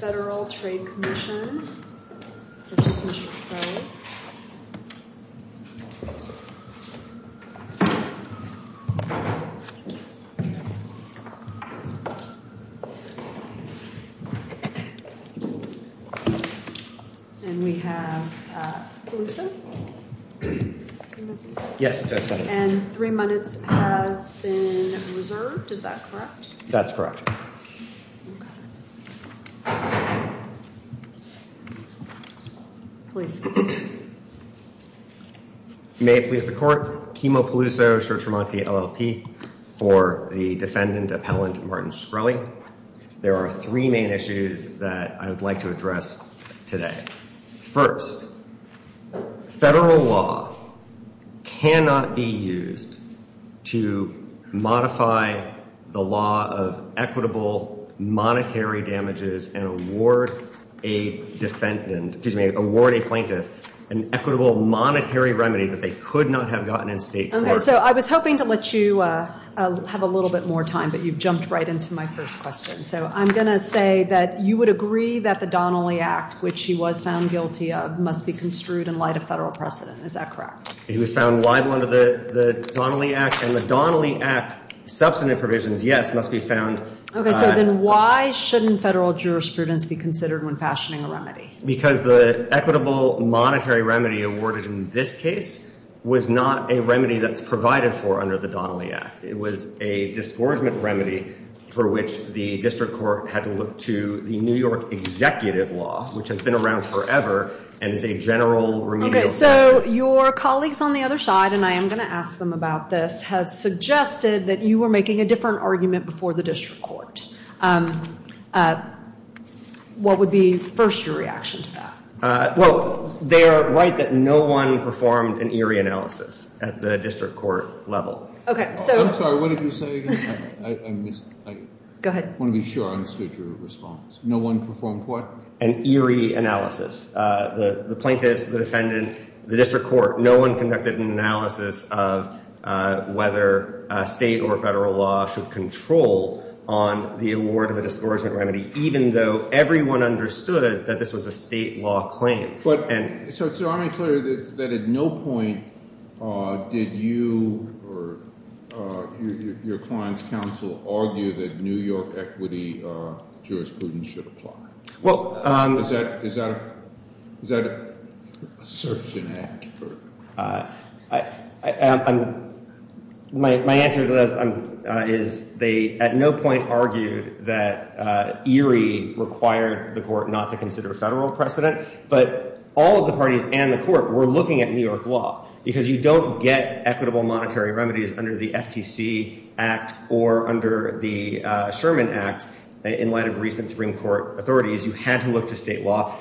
Federal Trade Commission, which is Mr. Schroeder And we have Pelusa. Yes. And three minutes has been reserved. Is that correct? That's correct. Please. May it please the court. Kimo Peluso, Church Remark, the LLP, for the defendant appellant, Martin Shkreli. There are three main issues that I would like to address today. First, federal law cannot be used to modify the law of equitable monetary damages and award a defendant, excuse me, award a plaintiff an equitable monetary remedy that they could not have gotten in state court. Okay, so I was hoping to let you have a little bit more time, but you've jumped right into my first question. So I'm going to say that you would agree that the Donnelly Act, which he was found guilty of, must be construed in light of federal precedent. Is that correct? He was found liable under the Donnelly Act. And the Donnelly Act substantive provisions, yes, must be found. Okay, so then why shouldn't federal jurisprudence be considered when fashioning a remedy? Because the equitable monetary remedy awarded in this case was not a remedy that's provided for under the Donnelly Act. It was a disgorgement remedy for which the district court had to look to the New York executive law, which has been around forever and is a general remedial practice. Okay, so your colleagues on the other side, and I am going to ask them about this, have suggested that you were making a different argument before the district court. What would be first your reaction to that? Well, they are right that no one performed an Erie analysis at the district court level. I'm sorry, what did you say again? I missed. Go ahead. I want to be sure I understood your response. No one performed what? An Erie analysis. The plaintiffs, the defendant, the district court, no one conducted an analysis of whether state or federal law should control on the award of a disgorgement remedy, even though everyone understood that this was a state law claim. So it's not unclear that at no point did you or your client's counsel argue that New York equity jurisprudence should apply. Is that assertion accurate? My answer to that is they at no point argued that Erie required the court not to consider federal precedent, but all of the parties and the court were looking at New York law, because you don't get equitable monetary remedies under the FTC Act or under the Sherman Act. In light of recent Supreme Court authorities, you had to look to state law.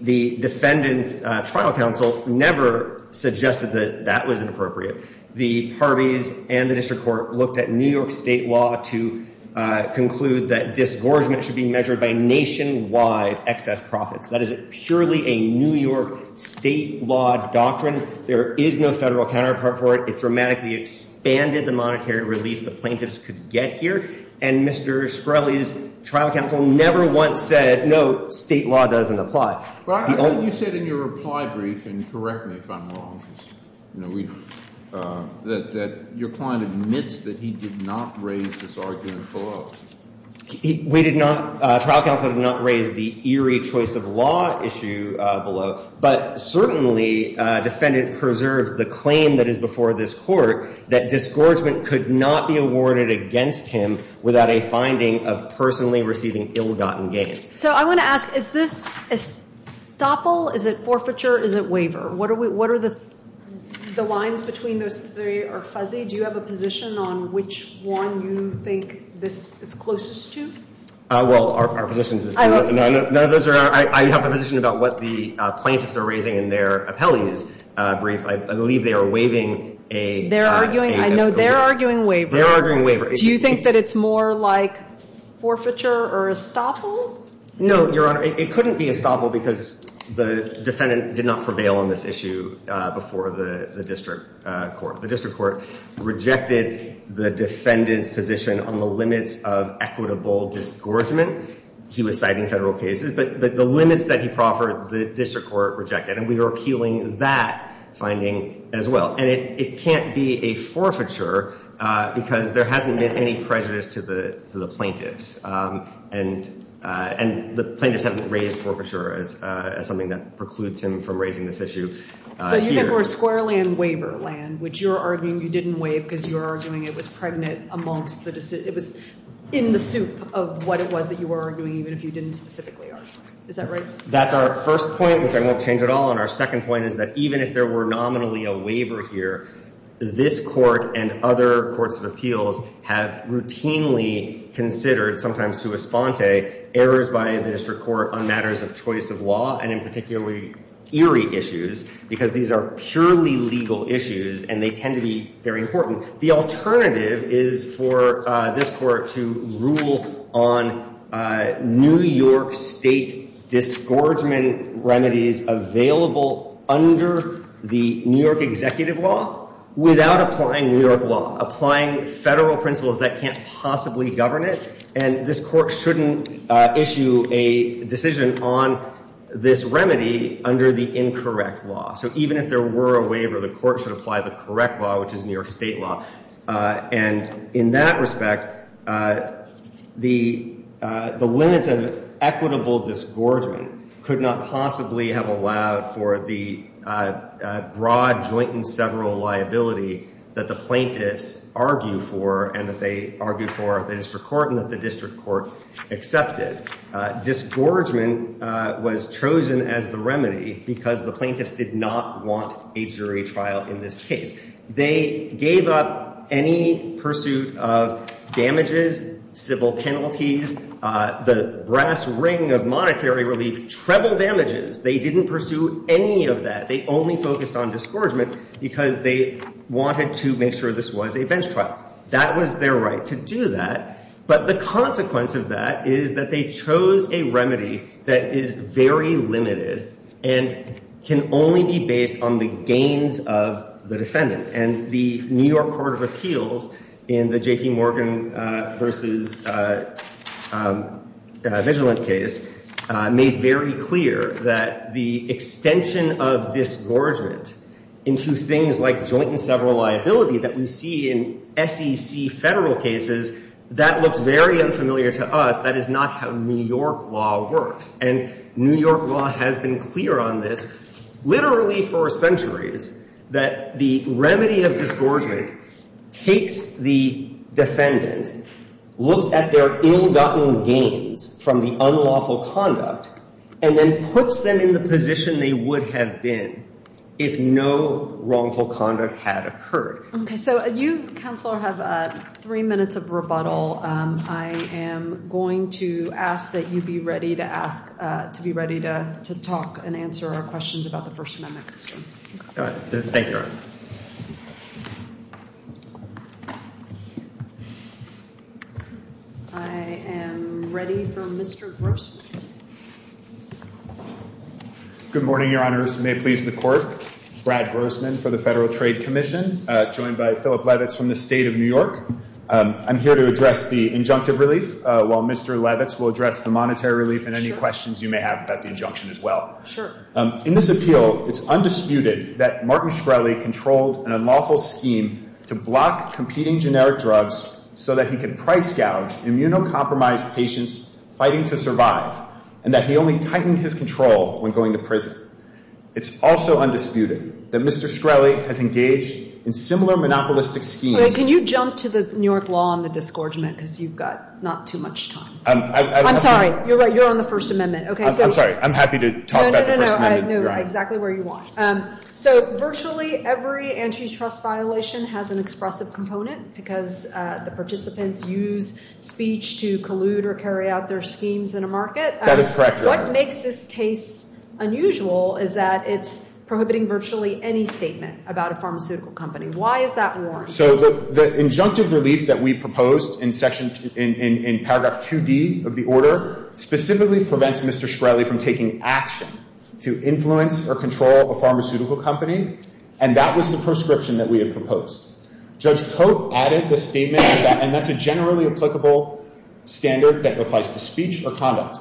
The defendant's trial counsel never suggested that that was inappropriate. The Harveys and the district court looked at New York state law to conclude that disgorgement should be measured by nationwide excess profits. That is purely a New York state law doctrine. There is no federal counterpart for it. It dramatically expanded the monetary relief the plaintiffs could get here. And Mr. Shkreli's trial counsel never once said, no, state law doesn't apply. You said in your reply brief, and correct me if I'm wrong, that your client admits that he did not raise this argument below. We did not. Trial counsel did not raise the Erie choice of law issue below. But certainly, defendant preserved the claim that is before this court that disgorgement could not be awarded against him without a finding of personally receiving ill-gotten gains. So I want to ask, is this a stopple? Is it forfeiture? Is it waiver? What are the lines between those three are fuzzy? Mr. Shkreli, do you have a position on which one you think this is closest to? Well, our position is none of those are. I have a position about what the plaintiffs are raising in their appellee's brief. I believe they are waiving a- They're arguing. I know they're arguing waiver. They're arguing waiver. Do you think that it's more like forfeiture or a stopple? No, Your Honor. It couldn't be a stopple because the defendant did not prevail on this issue before the district court. The district court rejected the defendant's position on the limits of equitable disgorgement. He was citing federal cases. But the limits that he proffered, the district court rejected. And we are appealing that finding as well. And it can't be a forfeiture because there hasn't been any prejudice to the plaintiffs. And the plaintiffs haven't raised forfeiture as something that precludes him from raising this issue here. The district court squarely in waiver land, which you're arguing you didn't waive because you're arguing it was pregnant amongst the- It was in the soup of what it was that you were arguing even if you didn't specifically argue. Is that right? That's our first point, which I won't change at all. And our second point is that even if there were nominally a waiver here, this court and other courts of appeals have routinely considered, sometimes to a sponte, errors by the district court on matters of choice of law and in particularly eerie issues because these are purely legal issues and they tend to be very important. The alternative is for this court to rule on New York state disgorgement remedies available under the New York executive law without applying New York law, applying federal principles that can't possibly govern it. And this court shouldn't issue a decision on this remedy under the incorrect law. So even if there were a waiver, the court should apply the correct law, which is New York state law. And in that respect, the limits of equitable disgorgement could not possibly have allowed for the broad joint and several liability that the plaintiffs argue for and that they argue for the district court and that the district court accepted. Disgorgement was chosen as the remedy because the plaintiffs did not want a jury trial in this case. They gave up any pursuit of damages, civil penalties, the brass ring of monetary relief, treble damages. They didn't pursue any of that. They only focused on disgorgement because they wanted to make sure this was a bench trial. That was their right to do that. But the consequence of that is that they chose a remedy that is very limited and can only be based on the gains of the defendant. And the New York Court of Appeals in the J.P. Morgan v. Vigilant case made very clear that the extension of disgorgement into things like joint and several liability that we see in SEC federal cases, that looks very unfamiliar to us. That is not how New York law works. And New York law has been clear on this literally for centuries, that the remedy of disgorgement takes the defendant, looks at their ill-gotten gains from the unlawful conduct, and then puts them in the position they would have been if no wrongful conduct had occurred. Okay. So you, Counselor, have three minutes of rebuttal. I am going to ask that you be ready to talk and answer our questions about the First Amendment. Thank you, Your Honor. I am ready for Mr. Grossman. Good morning, Your Honors. May it please the Court. Brad Grossman for the Federal Trade Commission, joined by Philip Levitz from the State of New York. I'm here to address the injunctive relief, while Mr. Levitz will address the monetary relief and any questions you may have about the injunction as well. Sure. In this appeal, it's undisputed that Martin Shkreli controlled an unlawful scheme to block competing generic drugs so that he could price gouge immunocompromised patients fighting to survive, and that he only tightened his control when going to prison. It's also undisputed that Mr. Shkreli has engaged in similar monopolistic schemes. Can you jump to the New York law on the disgorgement because you've got not too much time. I'm sorry. You're right. You're on the First Amendment. I'm sorry. I'm happy to talk about the First Amendment. No, no, no. Exactly where you want. So virtually every antitrust violation has an expressive component because the participants use speech to collude or carry out their schemes in a market. That is correct, Your Honor. What makes this case unusual is that it's prohibiting virtually any statement about a pharmaceutical company. Why is that warranted? So the injunctive relief that we proposed in paragraph 2D of the order specifically prevents Mr. Shkreli from taking action to influence or control a pharmaceutical company, and that was the proscription that we had proposed. Judge Cote added the statement, and that's a generally applicable standard that applies to speech or conduct.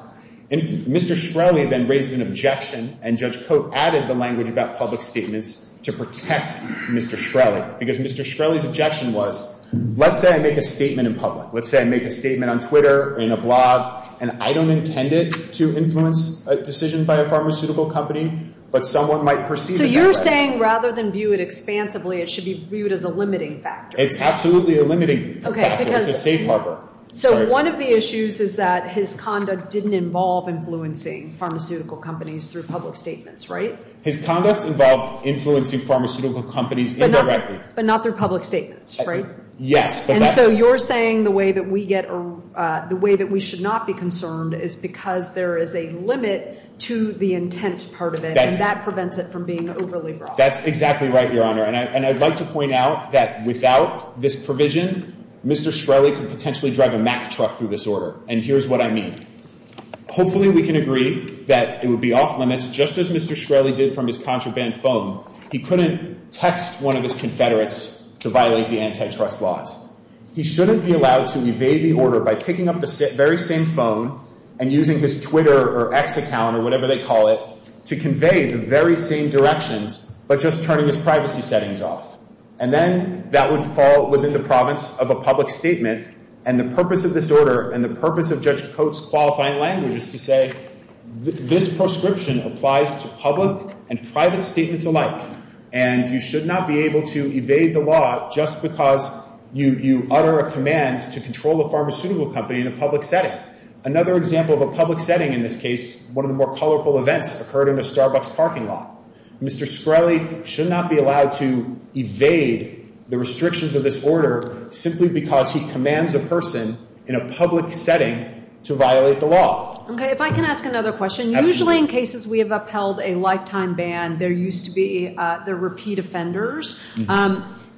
And Mr. Shkreli then raised an objection, and Judge Cote added the language about public statements to protect Mr. Shkreli because Mr. Shkreli's objection was, let's say I make a statement in public. Let's say I make a statement on Twitter or in a blog, and I don't intend it to influence a decision by a pharmaceutical company, but someone might perceive it that way. So you're saying rather than view it expansively, it should be viewed as a limiting factor. It's absolutely a limiting factor. It's a safe harbor. So one of the issues is that his conduct didn't involve influencing pharmaceutical companies through public statements, right? His conduct involved influencing pharmaceutical companies indirectly. But not through public statements, right? Yes. And so you're saying the way that we should not be concerned is because there is a limit to the intent part of it, and that prevents it from being overly broad. That's exactly right, Your Honor. And I'd like to point out that without this provision, Mr. Shkreli could potentially drive a Mack truck through this order. And here's what I mean. Hopefully we can agree that it would be off limits, just as Mr. Shkreli did from his contraband phone. He couldn't text one of his confederates to violate the antitrust laws. He shouldn't be allowed to evade the order by picking up the very same phone and using his Twitter or ex account or whatever they call it to convey the very same directions, but just turning his privacy settings off. And then that would fall within the province of a public statement. And the purpose of this order and the purpose of Judge Coates' qualifying language is to say this proscription applies to public and private statements alike. And you should not be able to evade the law just because you utter a command to control a pharmaceutical company in a public setting. Another example of a public setting in this case, one of the more colorful events occurred in a Starbucks parking lot. Mr. Shkreli should not be allowed to evade the restrictions of this order simply because he commands a person in a public setting to violate the law. Okay, if I can ask another question. Usually in cases we have upheld a lifetime ban, there used to be the repeat offenders.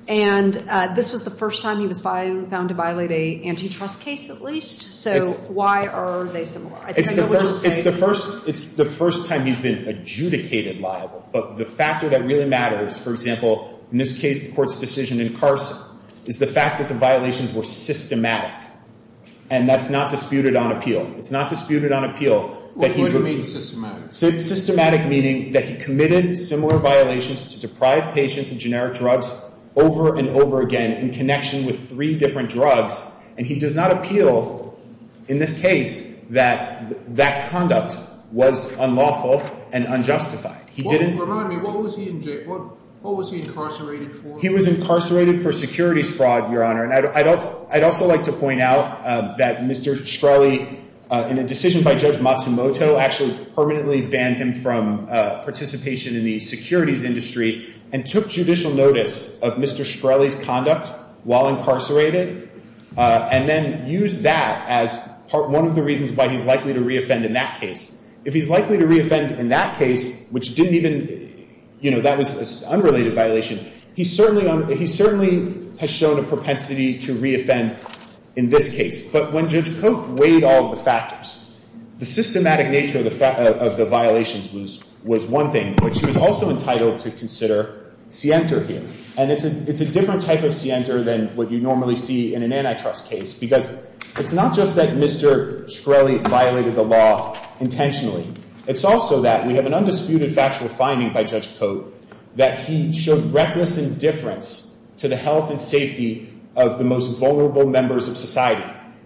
And this was the first time he was found to violate an antitrust case at least. So why are they similar? It's the first time he's been adjudicated liable. But the factor that really matters, for example, in this case, the court's decision in carcer, is the fact that the violations were systematic. And that's not disputed on appeal. It's not disputed on appeal. What do you mean systematic? Systematic meaning that he committed similar violations to deprive patients of generic drugs over and over again in connection with three different drugs. And he does not appeal in this case that that conduct was unlawful and unjustified. Remind me, what was he incarcerated for? He was incarcerated for securities fraud, Your Honor. And I'd also like to point out that Mr. Shkreli, in a decision by Judge Matsumoto, actually permanently banned him from participation in the securities industry and took judicial notice of Mr. Shkreli's conduct while incarcerated, and then used that as one of the reasons why he's likely to reoffend in that case. If he's likely to reoffend in that case, which didn't even, you know, that was an unrelated violation, he certainly has shown a propensity to reoffend in this case. But when Judge Cope weighed all the factors, the systematic nature of the violations was one thing. But she was also entitled to consider scienter here. And it's a different type of scienter than what you normally see in an antitrust case, because it's not just that Mr. Shkreli violated the law intentionally. It's also that we have an undisputed factual finding by Judge Cope that he showed reckless indifference to the health and safety of the most vulnerable members of society.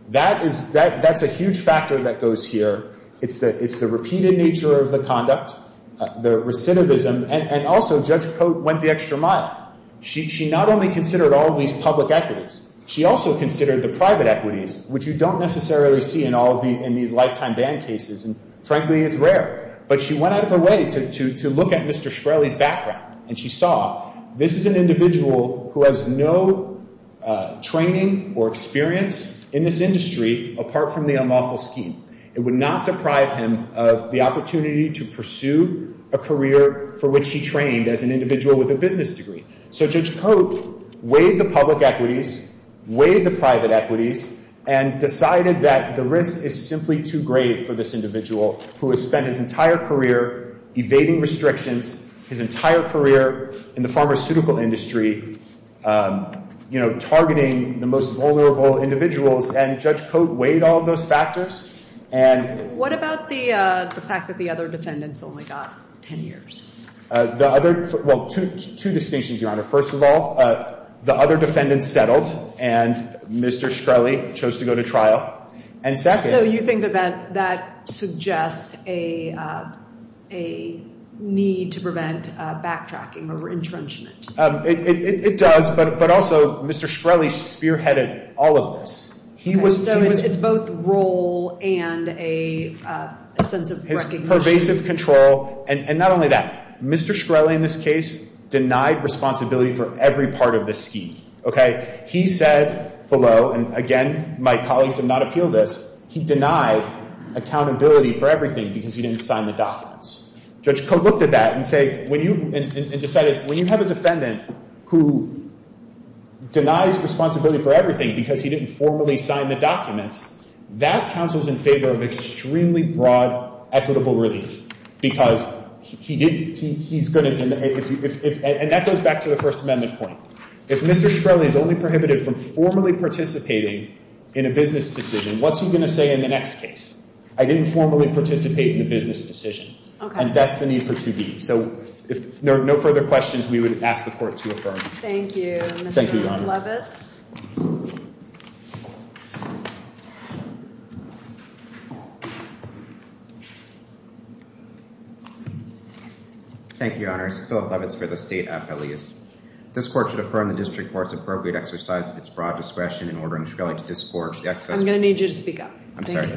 That's a huge factor that goes here. It's the repeated nature of the conduct, the recidivism, and also Judge Cope went the extra mile. She not only considered all of these public equities. She also considered the private equities, which you don't necessarily see in all of these lifetime ban cases, and frankly, it's rare. But she went out of her way to look at Mr. Shkreli's background, and she saw this is an individual who has no training or experience in this industry apart from the unlawful scheme. It would not deprive him of the opportunity to pursue a career for which he trained as an individual with a business degree. So Judge Cope weighed the public equities, weighed the private equities, and decided that the risk is simply too great for this individual who has spent his entire career evading restrictions, his entire career in the pharmaceutical industry targeting the most vulnerable individuals, and Judge Cope weighed all of those factors. What about the fact that the other defendants only got 10 years? Well, two distinctions, Your Honor. First of all, the other defendants settled, and Mr. Shkreli chose to go to trial. So you think that that suggests a need to prevent backtracking or intrenchment? It does, but also Mr. Shkreli spearheaded all of this. So it's both role and a sense of recognition. His pervasive control, and not only that, Mr. Shkreli in this case denied responsibility for every part of the scheme. He said below, and again, my colleagues have not appealed this, he denied accountability for everything because he didn't sign the documents. Judge Cope looked at that and decided, when you have a defendant who denies responsibility for everything because he didn't formally sign the documents, that counts as in favor of extremely broad, equitable relief. And that goes back to the First Amendment point. If Mr. Shkreli is only prohibited from formally participating in a business decision, what's he going to say in the next case? I didn't formally participate in the business decision. And that's the need for 2B. So if there are no further questions, we would ask the Court to affirm. Thank you, Mr. Levitz. Thank you, Your Honor. My name is Philip Levitz for the State Appellees. I'm going to need you to speak up. I'm sorry.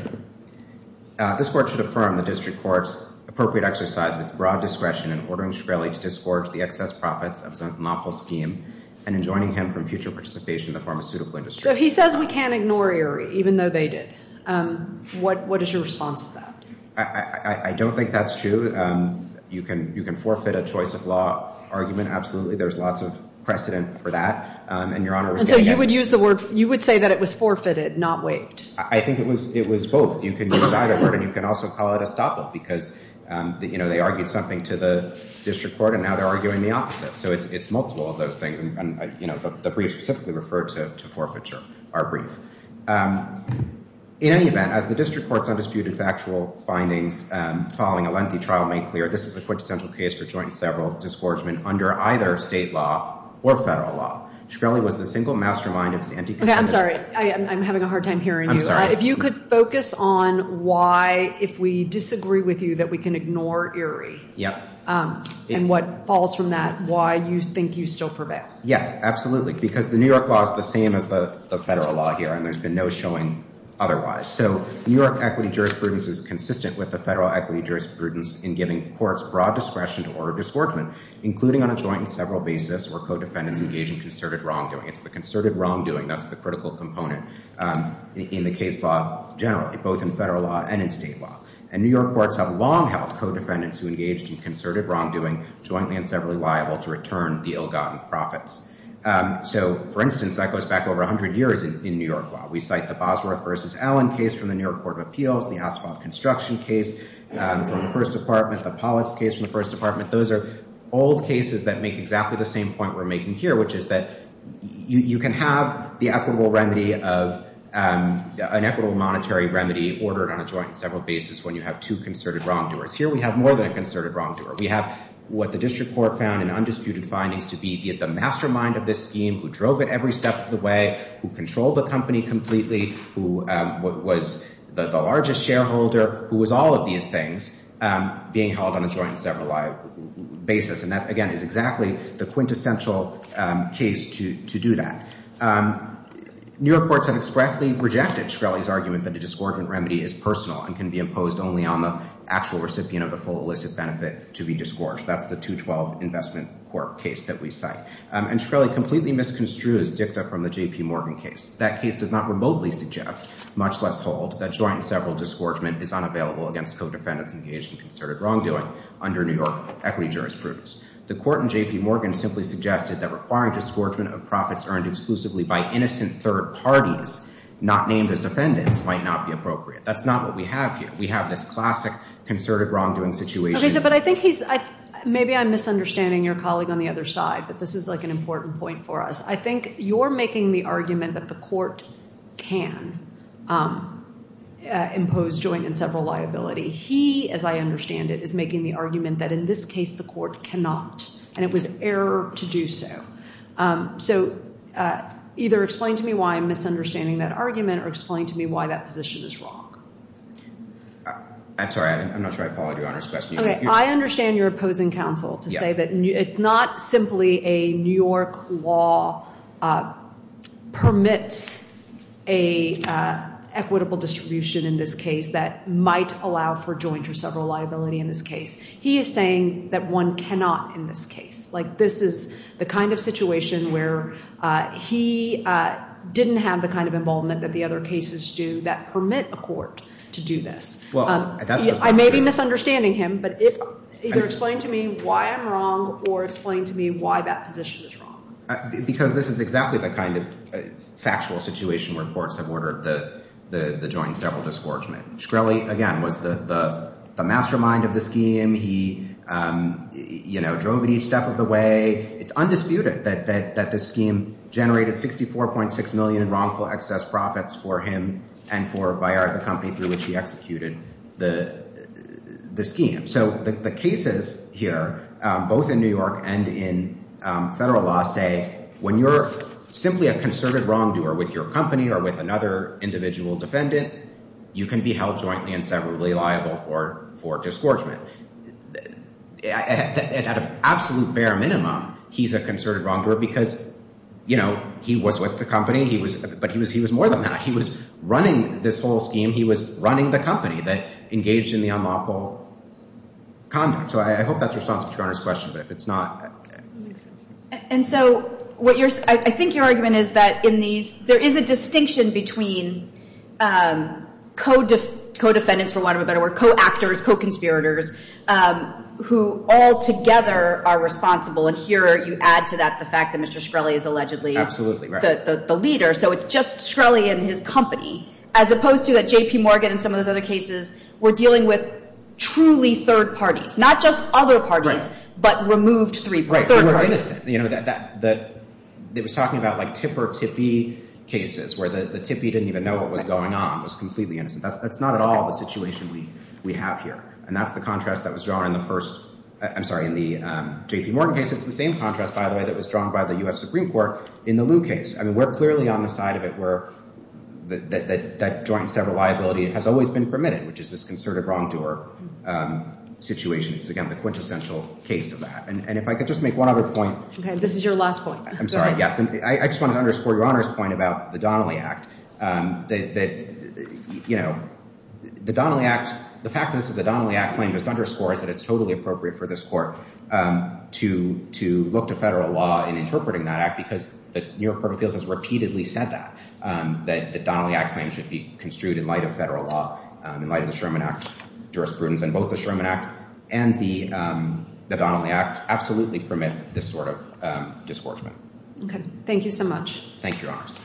So he says we can't ignore Erie, even though they did. What is your response to that? I don't think that's true. You can forfeit a choice of law argument, absolutely. There's lots of precedent for that. And Your Honor was getting at me. And so you would use the word, you would say that it was forfeited, not waived. I think it was both. You can use either word. And you can also call it a stoppel, because they argued something to the district court, and now they're arguing the opposite. So it's multiple of those things. And the brief specifically referred to forfeiture, our brief. In any event, as the district court's undisputed factual findings following a lengthy trial made clear, this is a quintessential case for joint and several disgorgement under either state law or federal law. Shkreli was the single mastermind of his anti-conspiracy. I'm sorry. I'm having a hard time hearing you. I'm sorry. If you could focus on why, if we disagree with you, that we can ignore Erie. Yeah. And what falls from that, why you think you still prevail. Yeah, absolutely. Because the New York law is the same as the federal law here, and there's been no showing otherwise. So New York equity jurisprudence is consistent with the federal equity jurisprudence in giving courts broad discretion to order disgorgement, including on a joint and several basis where co-defendants engage in concerted wrongdoing. It's the concerted wrongdoing that's the critical component in the case law generally, both in federal law and in state law. And New York courts have long held co-defendants who engaged in concerted wrongdoing jointly and severally liable to return the ill-gotten profits. So, for instance, that goes back over 100 years in New York law. We cite the Bosworth v. Allen case from the New York Court of Appeals, the Asphalt Construction case from the First Department, the Pollix case from the First Department. Those are old cases that make exactly the same point we're making here, which is that you can have the equitable remedy of an equitable monetary remedy ordered on a joint and several basis when you have two concerted wrongdoers. Here we have more than a concerted wrongdoer. We have what the district court found in undisputed findings to be the mastermind of this scheme, who drove it every step of the way, who controlled the company completely, who was the largest shareholder, who was all of these things being held on a joint and several basis. And that, again, is exactly the quintessential case to do that. New York courts have expressly rejected Shkreli's argument that the disgorgement remedy is personal and can be imposed only on the actual recipient of the full illicit benefit to be disgorged. That's the 212 Investment Corp. case that we cite. And Shkreli completely misconstrued his dicta from the J.P. Morgan case. That case does not remotely suggest, much less hold, that joint and several disgorgement is unavailable against co-defendants engaged in concerted wrongdoing under New York equity jurisprudence. The court in J.P. Morgan simply suggested that requiring disgorgement of profits earned exclusively by innocent third parties, not named as defendants, might not be appropriate. That's not what we have here. We have this classic concerted wrongdoing situation. But I think he's – maybe I'm misunderstanding your colleague on the other side, but this is like an important point for us. I think you're making the argument that the court can impose joint and several liability. He, as I understand it, is making the argument that in this case the court cannot, and it was error to do so. So either explain to me why I'm misunderstanding that argument or explain to me why that position is wrong. I'm sorry. I'm not sure I followed Your Honor's question. Okay. I understand you're opposing counsel to say that it's not simply a New York law permits a equitable distribution in this case that might allow for joint or several liability in this case. He is saying that one cannot in this case. Like this is the kind of situation where he didn't have the kind of involvement that the other cases do that permit a court to do this. I may be misunderstanding him, but either explain to me why I'm wrong or explain to me why that position is wrong. Because this is exactly the kind of factual situation where courts have ordered the joint and several disgorgement. Shkreli, again, was the mastermind of the scheme. He drove it each step of the way. It's undisputed that the scheme generated 64.6 million in wrongful excess profits for him and for Bayard, the company through which he executed the scheme. So the cases here, both in New York and in federal law, say when you're simply a concerted wrongdoer with your company or with another individual defendant, you can be held jointly and severally liable for disgorgement. At an absolute bare minimum, he's a concerted wrongdoer because, you know, he was with the company. But he was more than that. He was running this whole scheme. He was running the company that engaged in the unlawful conduct. So I hope that's responsive to Your Honor's question, but if it's not. And so I think your argument is that there is a distinction between co-defendants, for want of a better word, co-actors, co-conspirators, who all together are responsible. And here you add to that the fact that Mr. Shkreli is allegedly the leader. So it's just Shkreli and his company, as opposed to that JPMorgan and some of those other cases were dealing with truly third parties. Not just other parties, but removed third parties. Right. They were innocent. It was talking about like tipper-tippee cases, where the tippee didn't even know what was going on, was completely innocent. That's not at all the situation we have here. And that's the contrast that was drawn in the first – I'm sorry, in the JPMorgan case. It's the same contrast, by the way, that was drawn by the U.S. Supreme Court in the Lew case. I mean, we're clearly on the side of it where that joint and several liability has always been permitted, which is this concerted wrongdoer situation. It's, again, the quintessential case of that. And if I could just make one other point. Okay. This is your last point. I'm sorry. Yes. I just wanted to underscore Your Honor's point about the Donnelly Act. You know, the Donnelly Act – the fact that this is a Donnelly Act claim just underscores that it's totally appropriate for this court to look to federal law in interpreting that act because the New York Court of Appeals has repeatedly said that. That the Donnelly Act claim should be construed in light of federal law, in light of the Sherman Act jurisprudence in both the Sherman Act and the Donnelly Act absolutely permit this sort of disgorgement. Okay. Thank you so much. Thank you, Your Honors.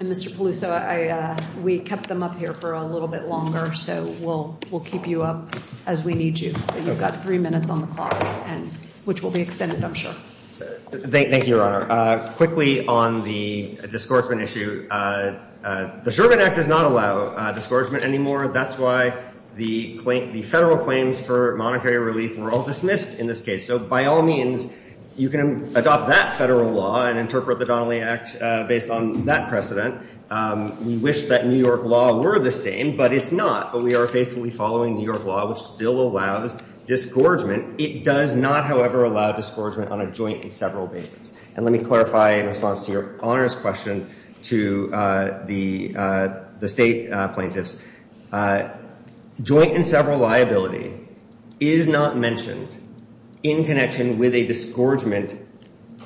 And Mr. Peluso, we kept them up here for a little bit longer, so we'll keep you up as we need you. You've got three minutes on the clock, which will be extended, I'm sure. Thank you, Your Honor. Quickly on the disgorgement issue, the Sherman Act does not allow disgorgement anymore. That's why the federal claims for monetary relief were all dismissed in this case. So by all means, you can adopt that federal law and interpret the Donnelly Act based on that precedent. We wish that New York law were the same, but it's not. But we are faithfully following New York law, which still allows disgorgement. It does not, however, allow disgorgement on a joint and several basis. And let me clarify in response to Your Honor's question to the state plaintiffs. Joint and several liability is not mentioned in connection with a disgorgement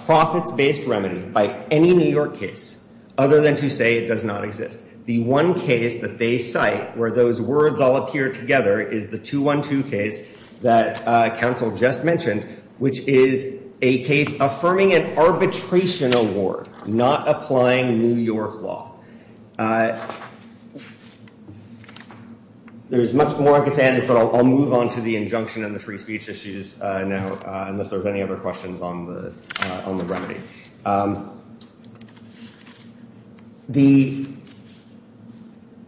profits-based remedy by any New York case other than to say it does not exist. The one case that they cite where those words all appear together is the 212 case that counsel just mentioned, which is a case affirming an arbitration award, not applying New York law. There's much more I can say on this, but I'll move on to the injunction and the free speech issues now, unless there's any other questions on the remedy. The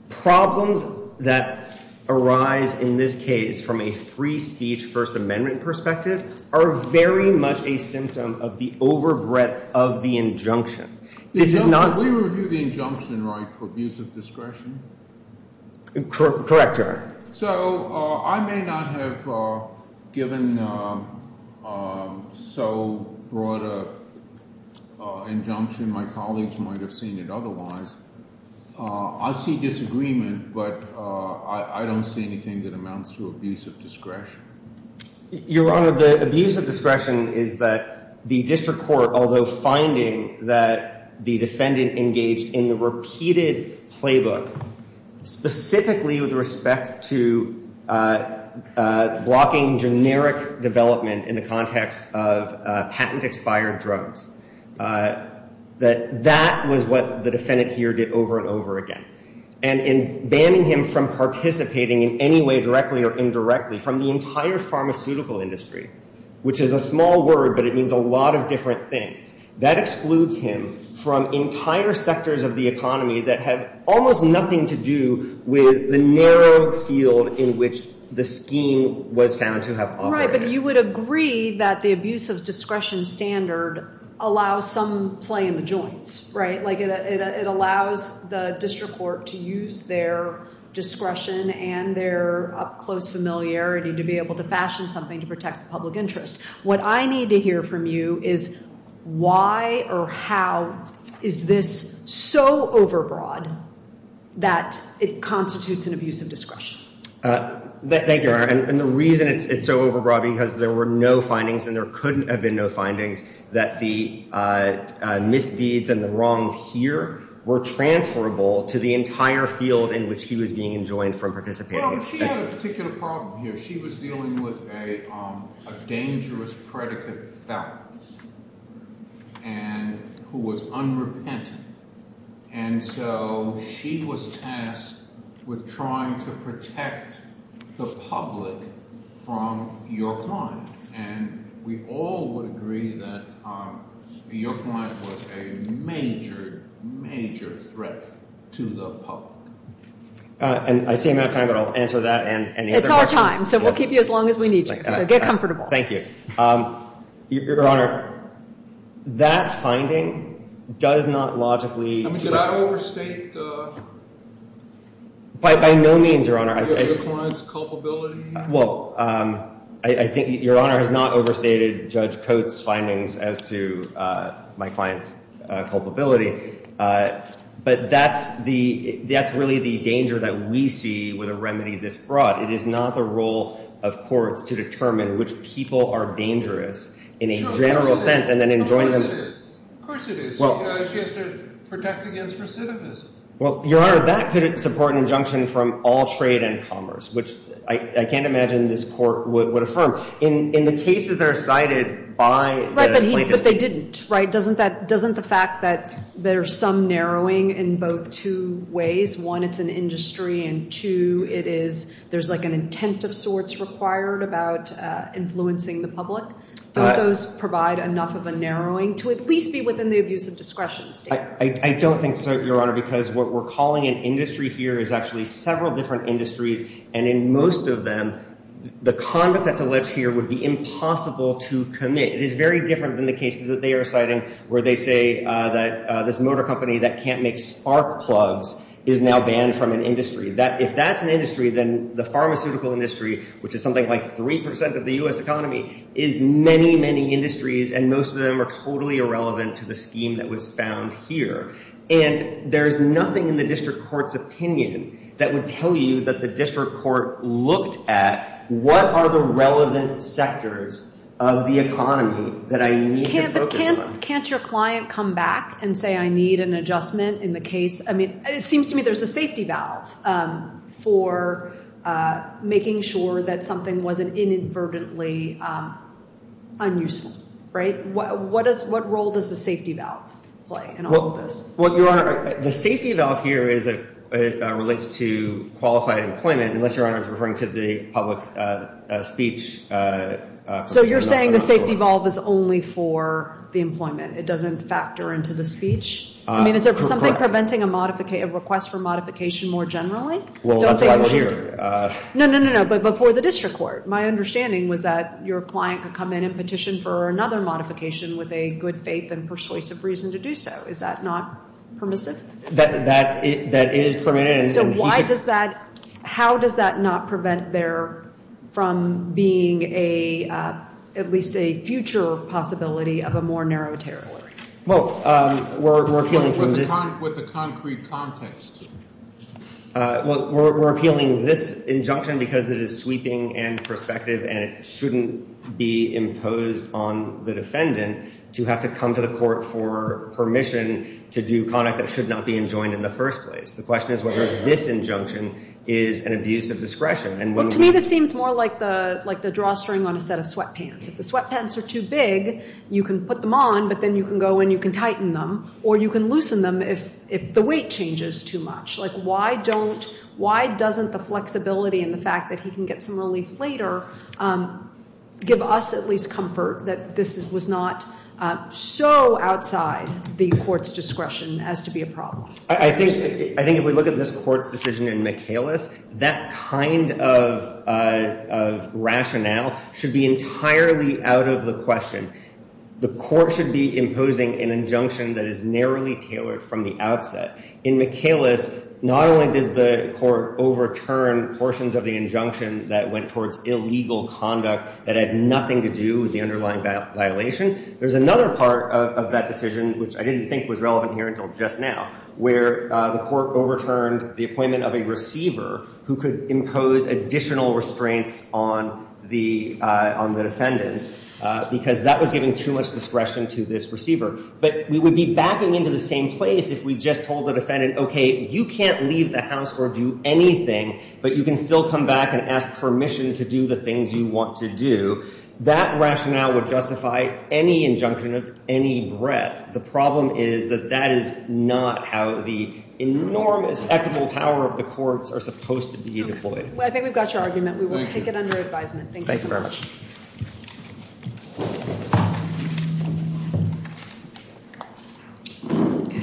problems that arise in this case from a free speech First Amendment perspective are very much a symptom of the overbreadth of the injunction. This is not— Can we review the injunction right for abuse of discretion? Correct, Your Honor. So I may not have given so broad an injunction. My colleagues might have seen it otherwise. I see disagreement, but I don't see anything that amounts to abuse of discretion. Your Honor, the abuse of discretion is that the district court, although finding that the defendant engaged in the repeated playbook, specifically with respect to blocking generic development in the context of patent-expired drugs, that that was what the defendant here did over and over again. And in banning him from participating in any way, directly or indirectly, from the entire pharmaceutical industry, which is a small word, but it means a lot of different things, that excludes him from entire sectors of the economy that have almost nothing to do with the narrow field in which the scheme was found to have operated. Right, but you would agree that the abuse of discretion standard allows some play in the joints, right? Like it allows the district court to use their discretion and their up-close familiarity to be able to fashion something to protect the public interest. What I need to hear from you is why or how is this so overbroad that it constitutes an abuse of discretion? Thank you, Your Honor, and the reason it's so overbroad because there were no findings and there couldn't have been no findings that the misdeeds and the wrongs here were transferable to the entire field in which he was being enjoined from participating. She had a particular problem here. She was dealing with a dangerous predicate felon who was unrepentant. And so she was tasked with trying to protect the public from your client. And we all would agree that your client was a major, major threat to the public. And I see I'm out of time, but I'll answer that and any other questions. It's our time, so we'll keep you as long as we need to. So get comfortable. Thank you. Your Honor, that finding does not logically. I mean, should I overstate? By no means, Your Honor. Your client's culpability? Well, I think Your Honor has not overstated Judge Coates' findings as to my client's culpability. But that's really the danger that we see with a remedy this broad. It is not the role of courts to determine which people are dangerous in a general sense and then enjoin them. Of course it is. She has to protect against recidivism. Well, Your Honor, that could support an injunction from all trade and commerce, which I can't imagine this court would affirm. In the cases that are cited by the plaintiffs. Right, but they didn't, right? Doesn't the fact that there's some narrowing in both two ways? One, it's an industry, and two, it is there's like an intent of sorts required about influencing the public. Don't those provide enough of a narrowing to at least be within the abuse of discretion state? I don't think so, Your Honor, because what we're calling an industry here is actually several different industries. And in most of them, the conduct that's alleged here would be impossible to commit. It is very different than the cases that they are citing where they say that this motor company that can't make spark plugs is now banned from an industry. If that's an industry, then the pharmaceutical industry, which is something like 3% of the U.S. economy, is many, many industries. And most of them are totally irrelevant to the scheme that was found here. And there's nothing in the district court's opinion that would tell you that the district court looked at what are the relevant sectors of the economy that I need to focus on. Can't your client come back and say I need an adjustment in the case? I mean, it seems to me there's a safety valve for making sure that something wasn't inadvertently unuseful, right? What role does the safety valve play in all of this? Well, Your Honor, the safety valve here relates to qualified employment, unless Your Honor is referring to the public speech. So you're saying the safety valve is only for the employment? It doesn't factor into the speech? I mean, is there something preventing a request for modification more generally? Well, that's why we're here. No, no, no, no. But before the district court, my understanding was that your client could come in and petition for another modification with a good faith and persuasive reason to do so. Is that not permissive? That is permitted. So why does that – how does that not prevent there from being at least a future possibility of a more narrow territory? Well, we're appealing from this – With a concrete context. Well, we're appealing this injunction because it is sweeping and prospective and it shouldn't be imposed on the defendant to have to come to the court for permission to do conduct that should not be enjoined in the first place. The question is whether this injunction is an abuse of discretion. To me, this seems more like the drawstring on a set of sweatpants. If the sweatpants are too big, you can put them on, but then you can go and you can tighten them or you can loosen them if the weight changes too much. Like, why don't – why doesn't the flexibility and the fact that he can get some relief later give us at least comfort that this was not so outside the court's discretion as to be a problem? I think if we look at this court's decision in Michaelis, that kind of rationale should be entirely out of the question. The court should be imposing an injunction that is narrowly tailored from the outset. In Michaelis, not only did the court overturn portions of the injunction that went towards illegal conduct that had nothing to do with the underlying violation, there's another part of that decision, which I didn't think was relevant here until just now, where the court overturned the appointment of a receiver who could impose additional restraints on the defendants because that was giving too much discretion to this receiver. But we would be backing into the same place if we just told the defendant, okay, you can't leave the house or do anything, but you can still come back and ask permission to do the things you want to do. That rationale would justify any injunction of any breadth. The problem is that that is not how the enormous equitable power of the courts are supposed to be deployed. I think we've got your argument. We will take it under advisement. Thank you. Thank you very much.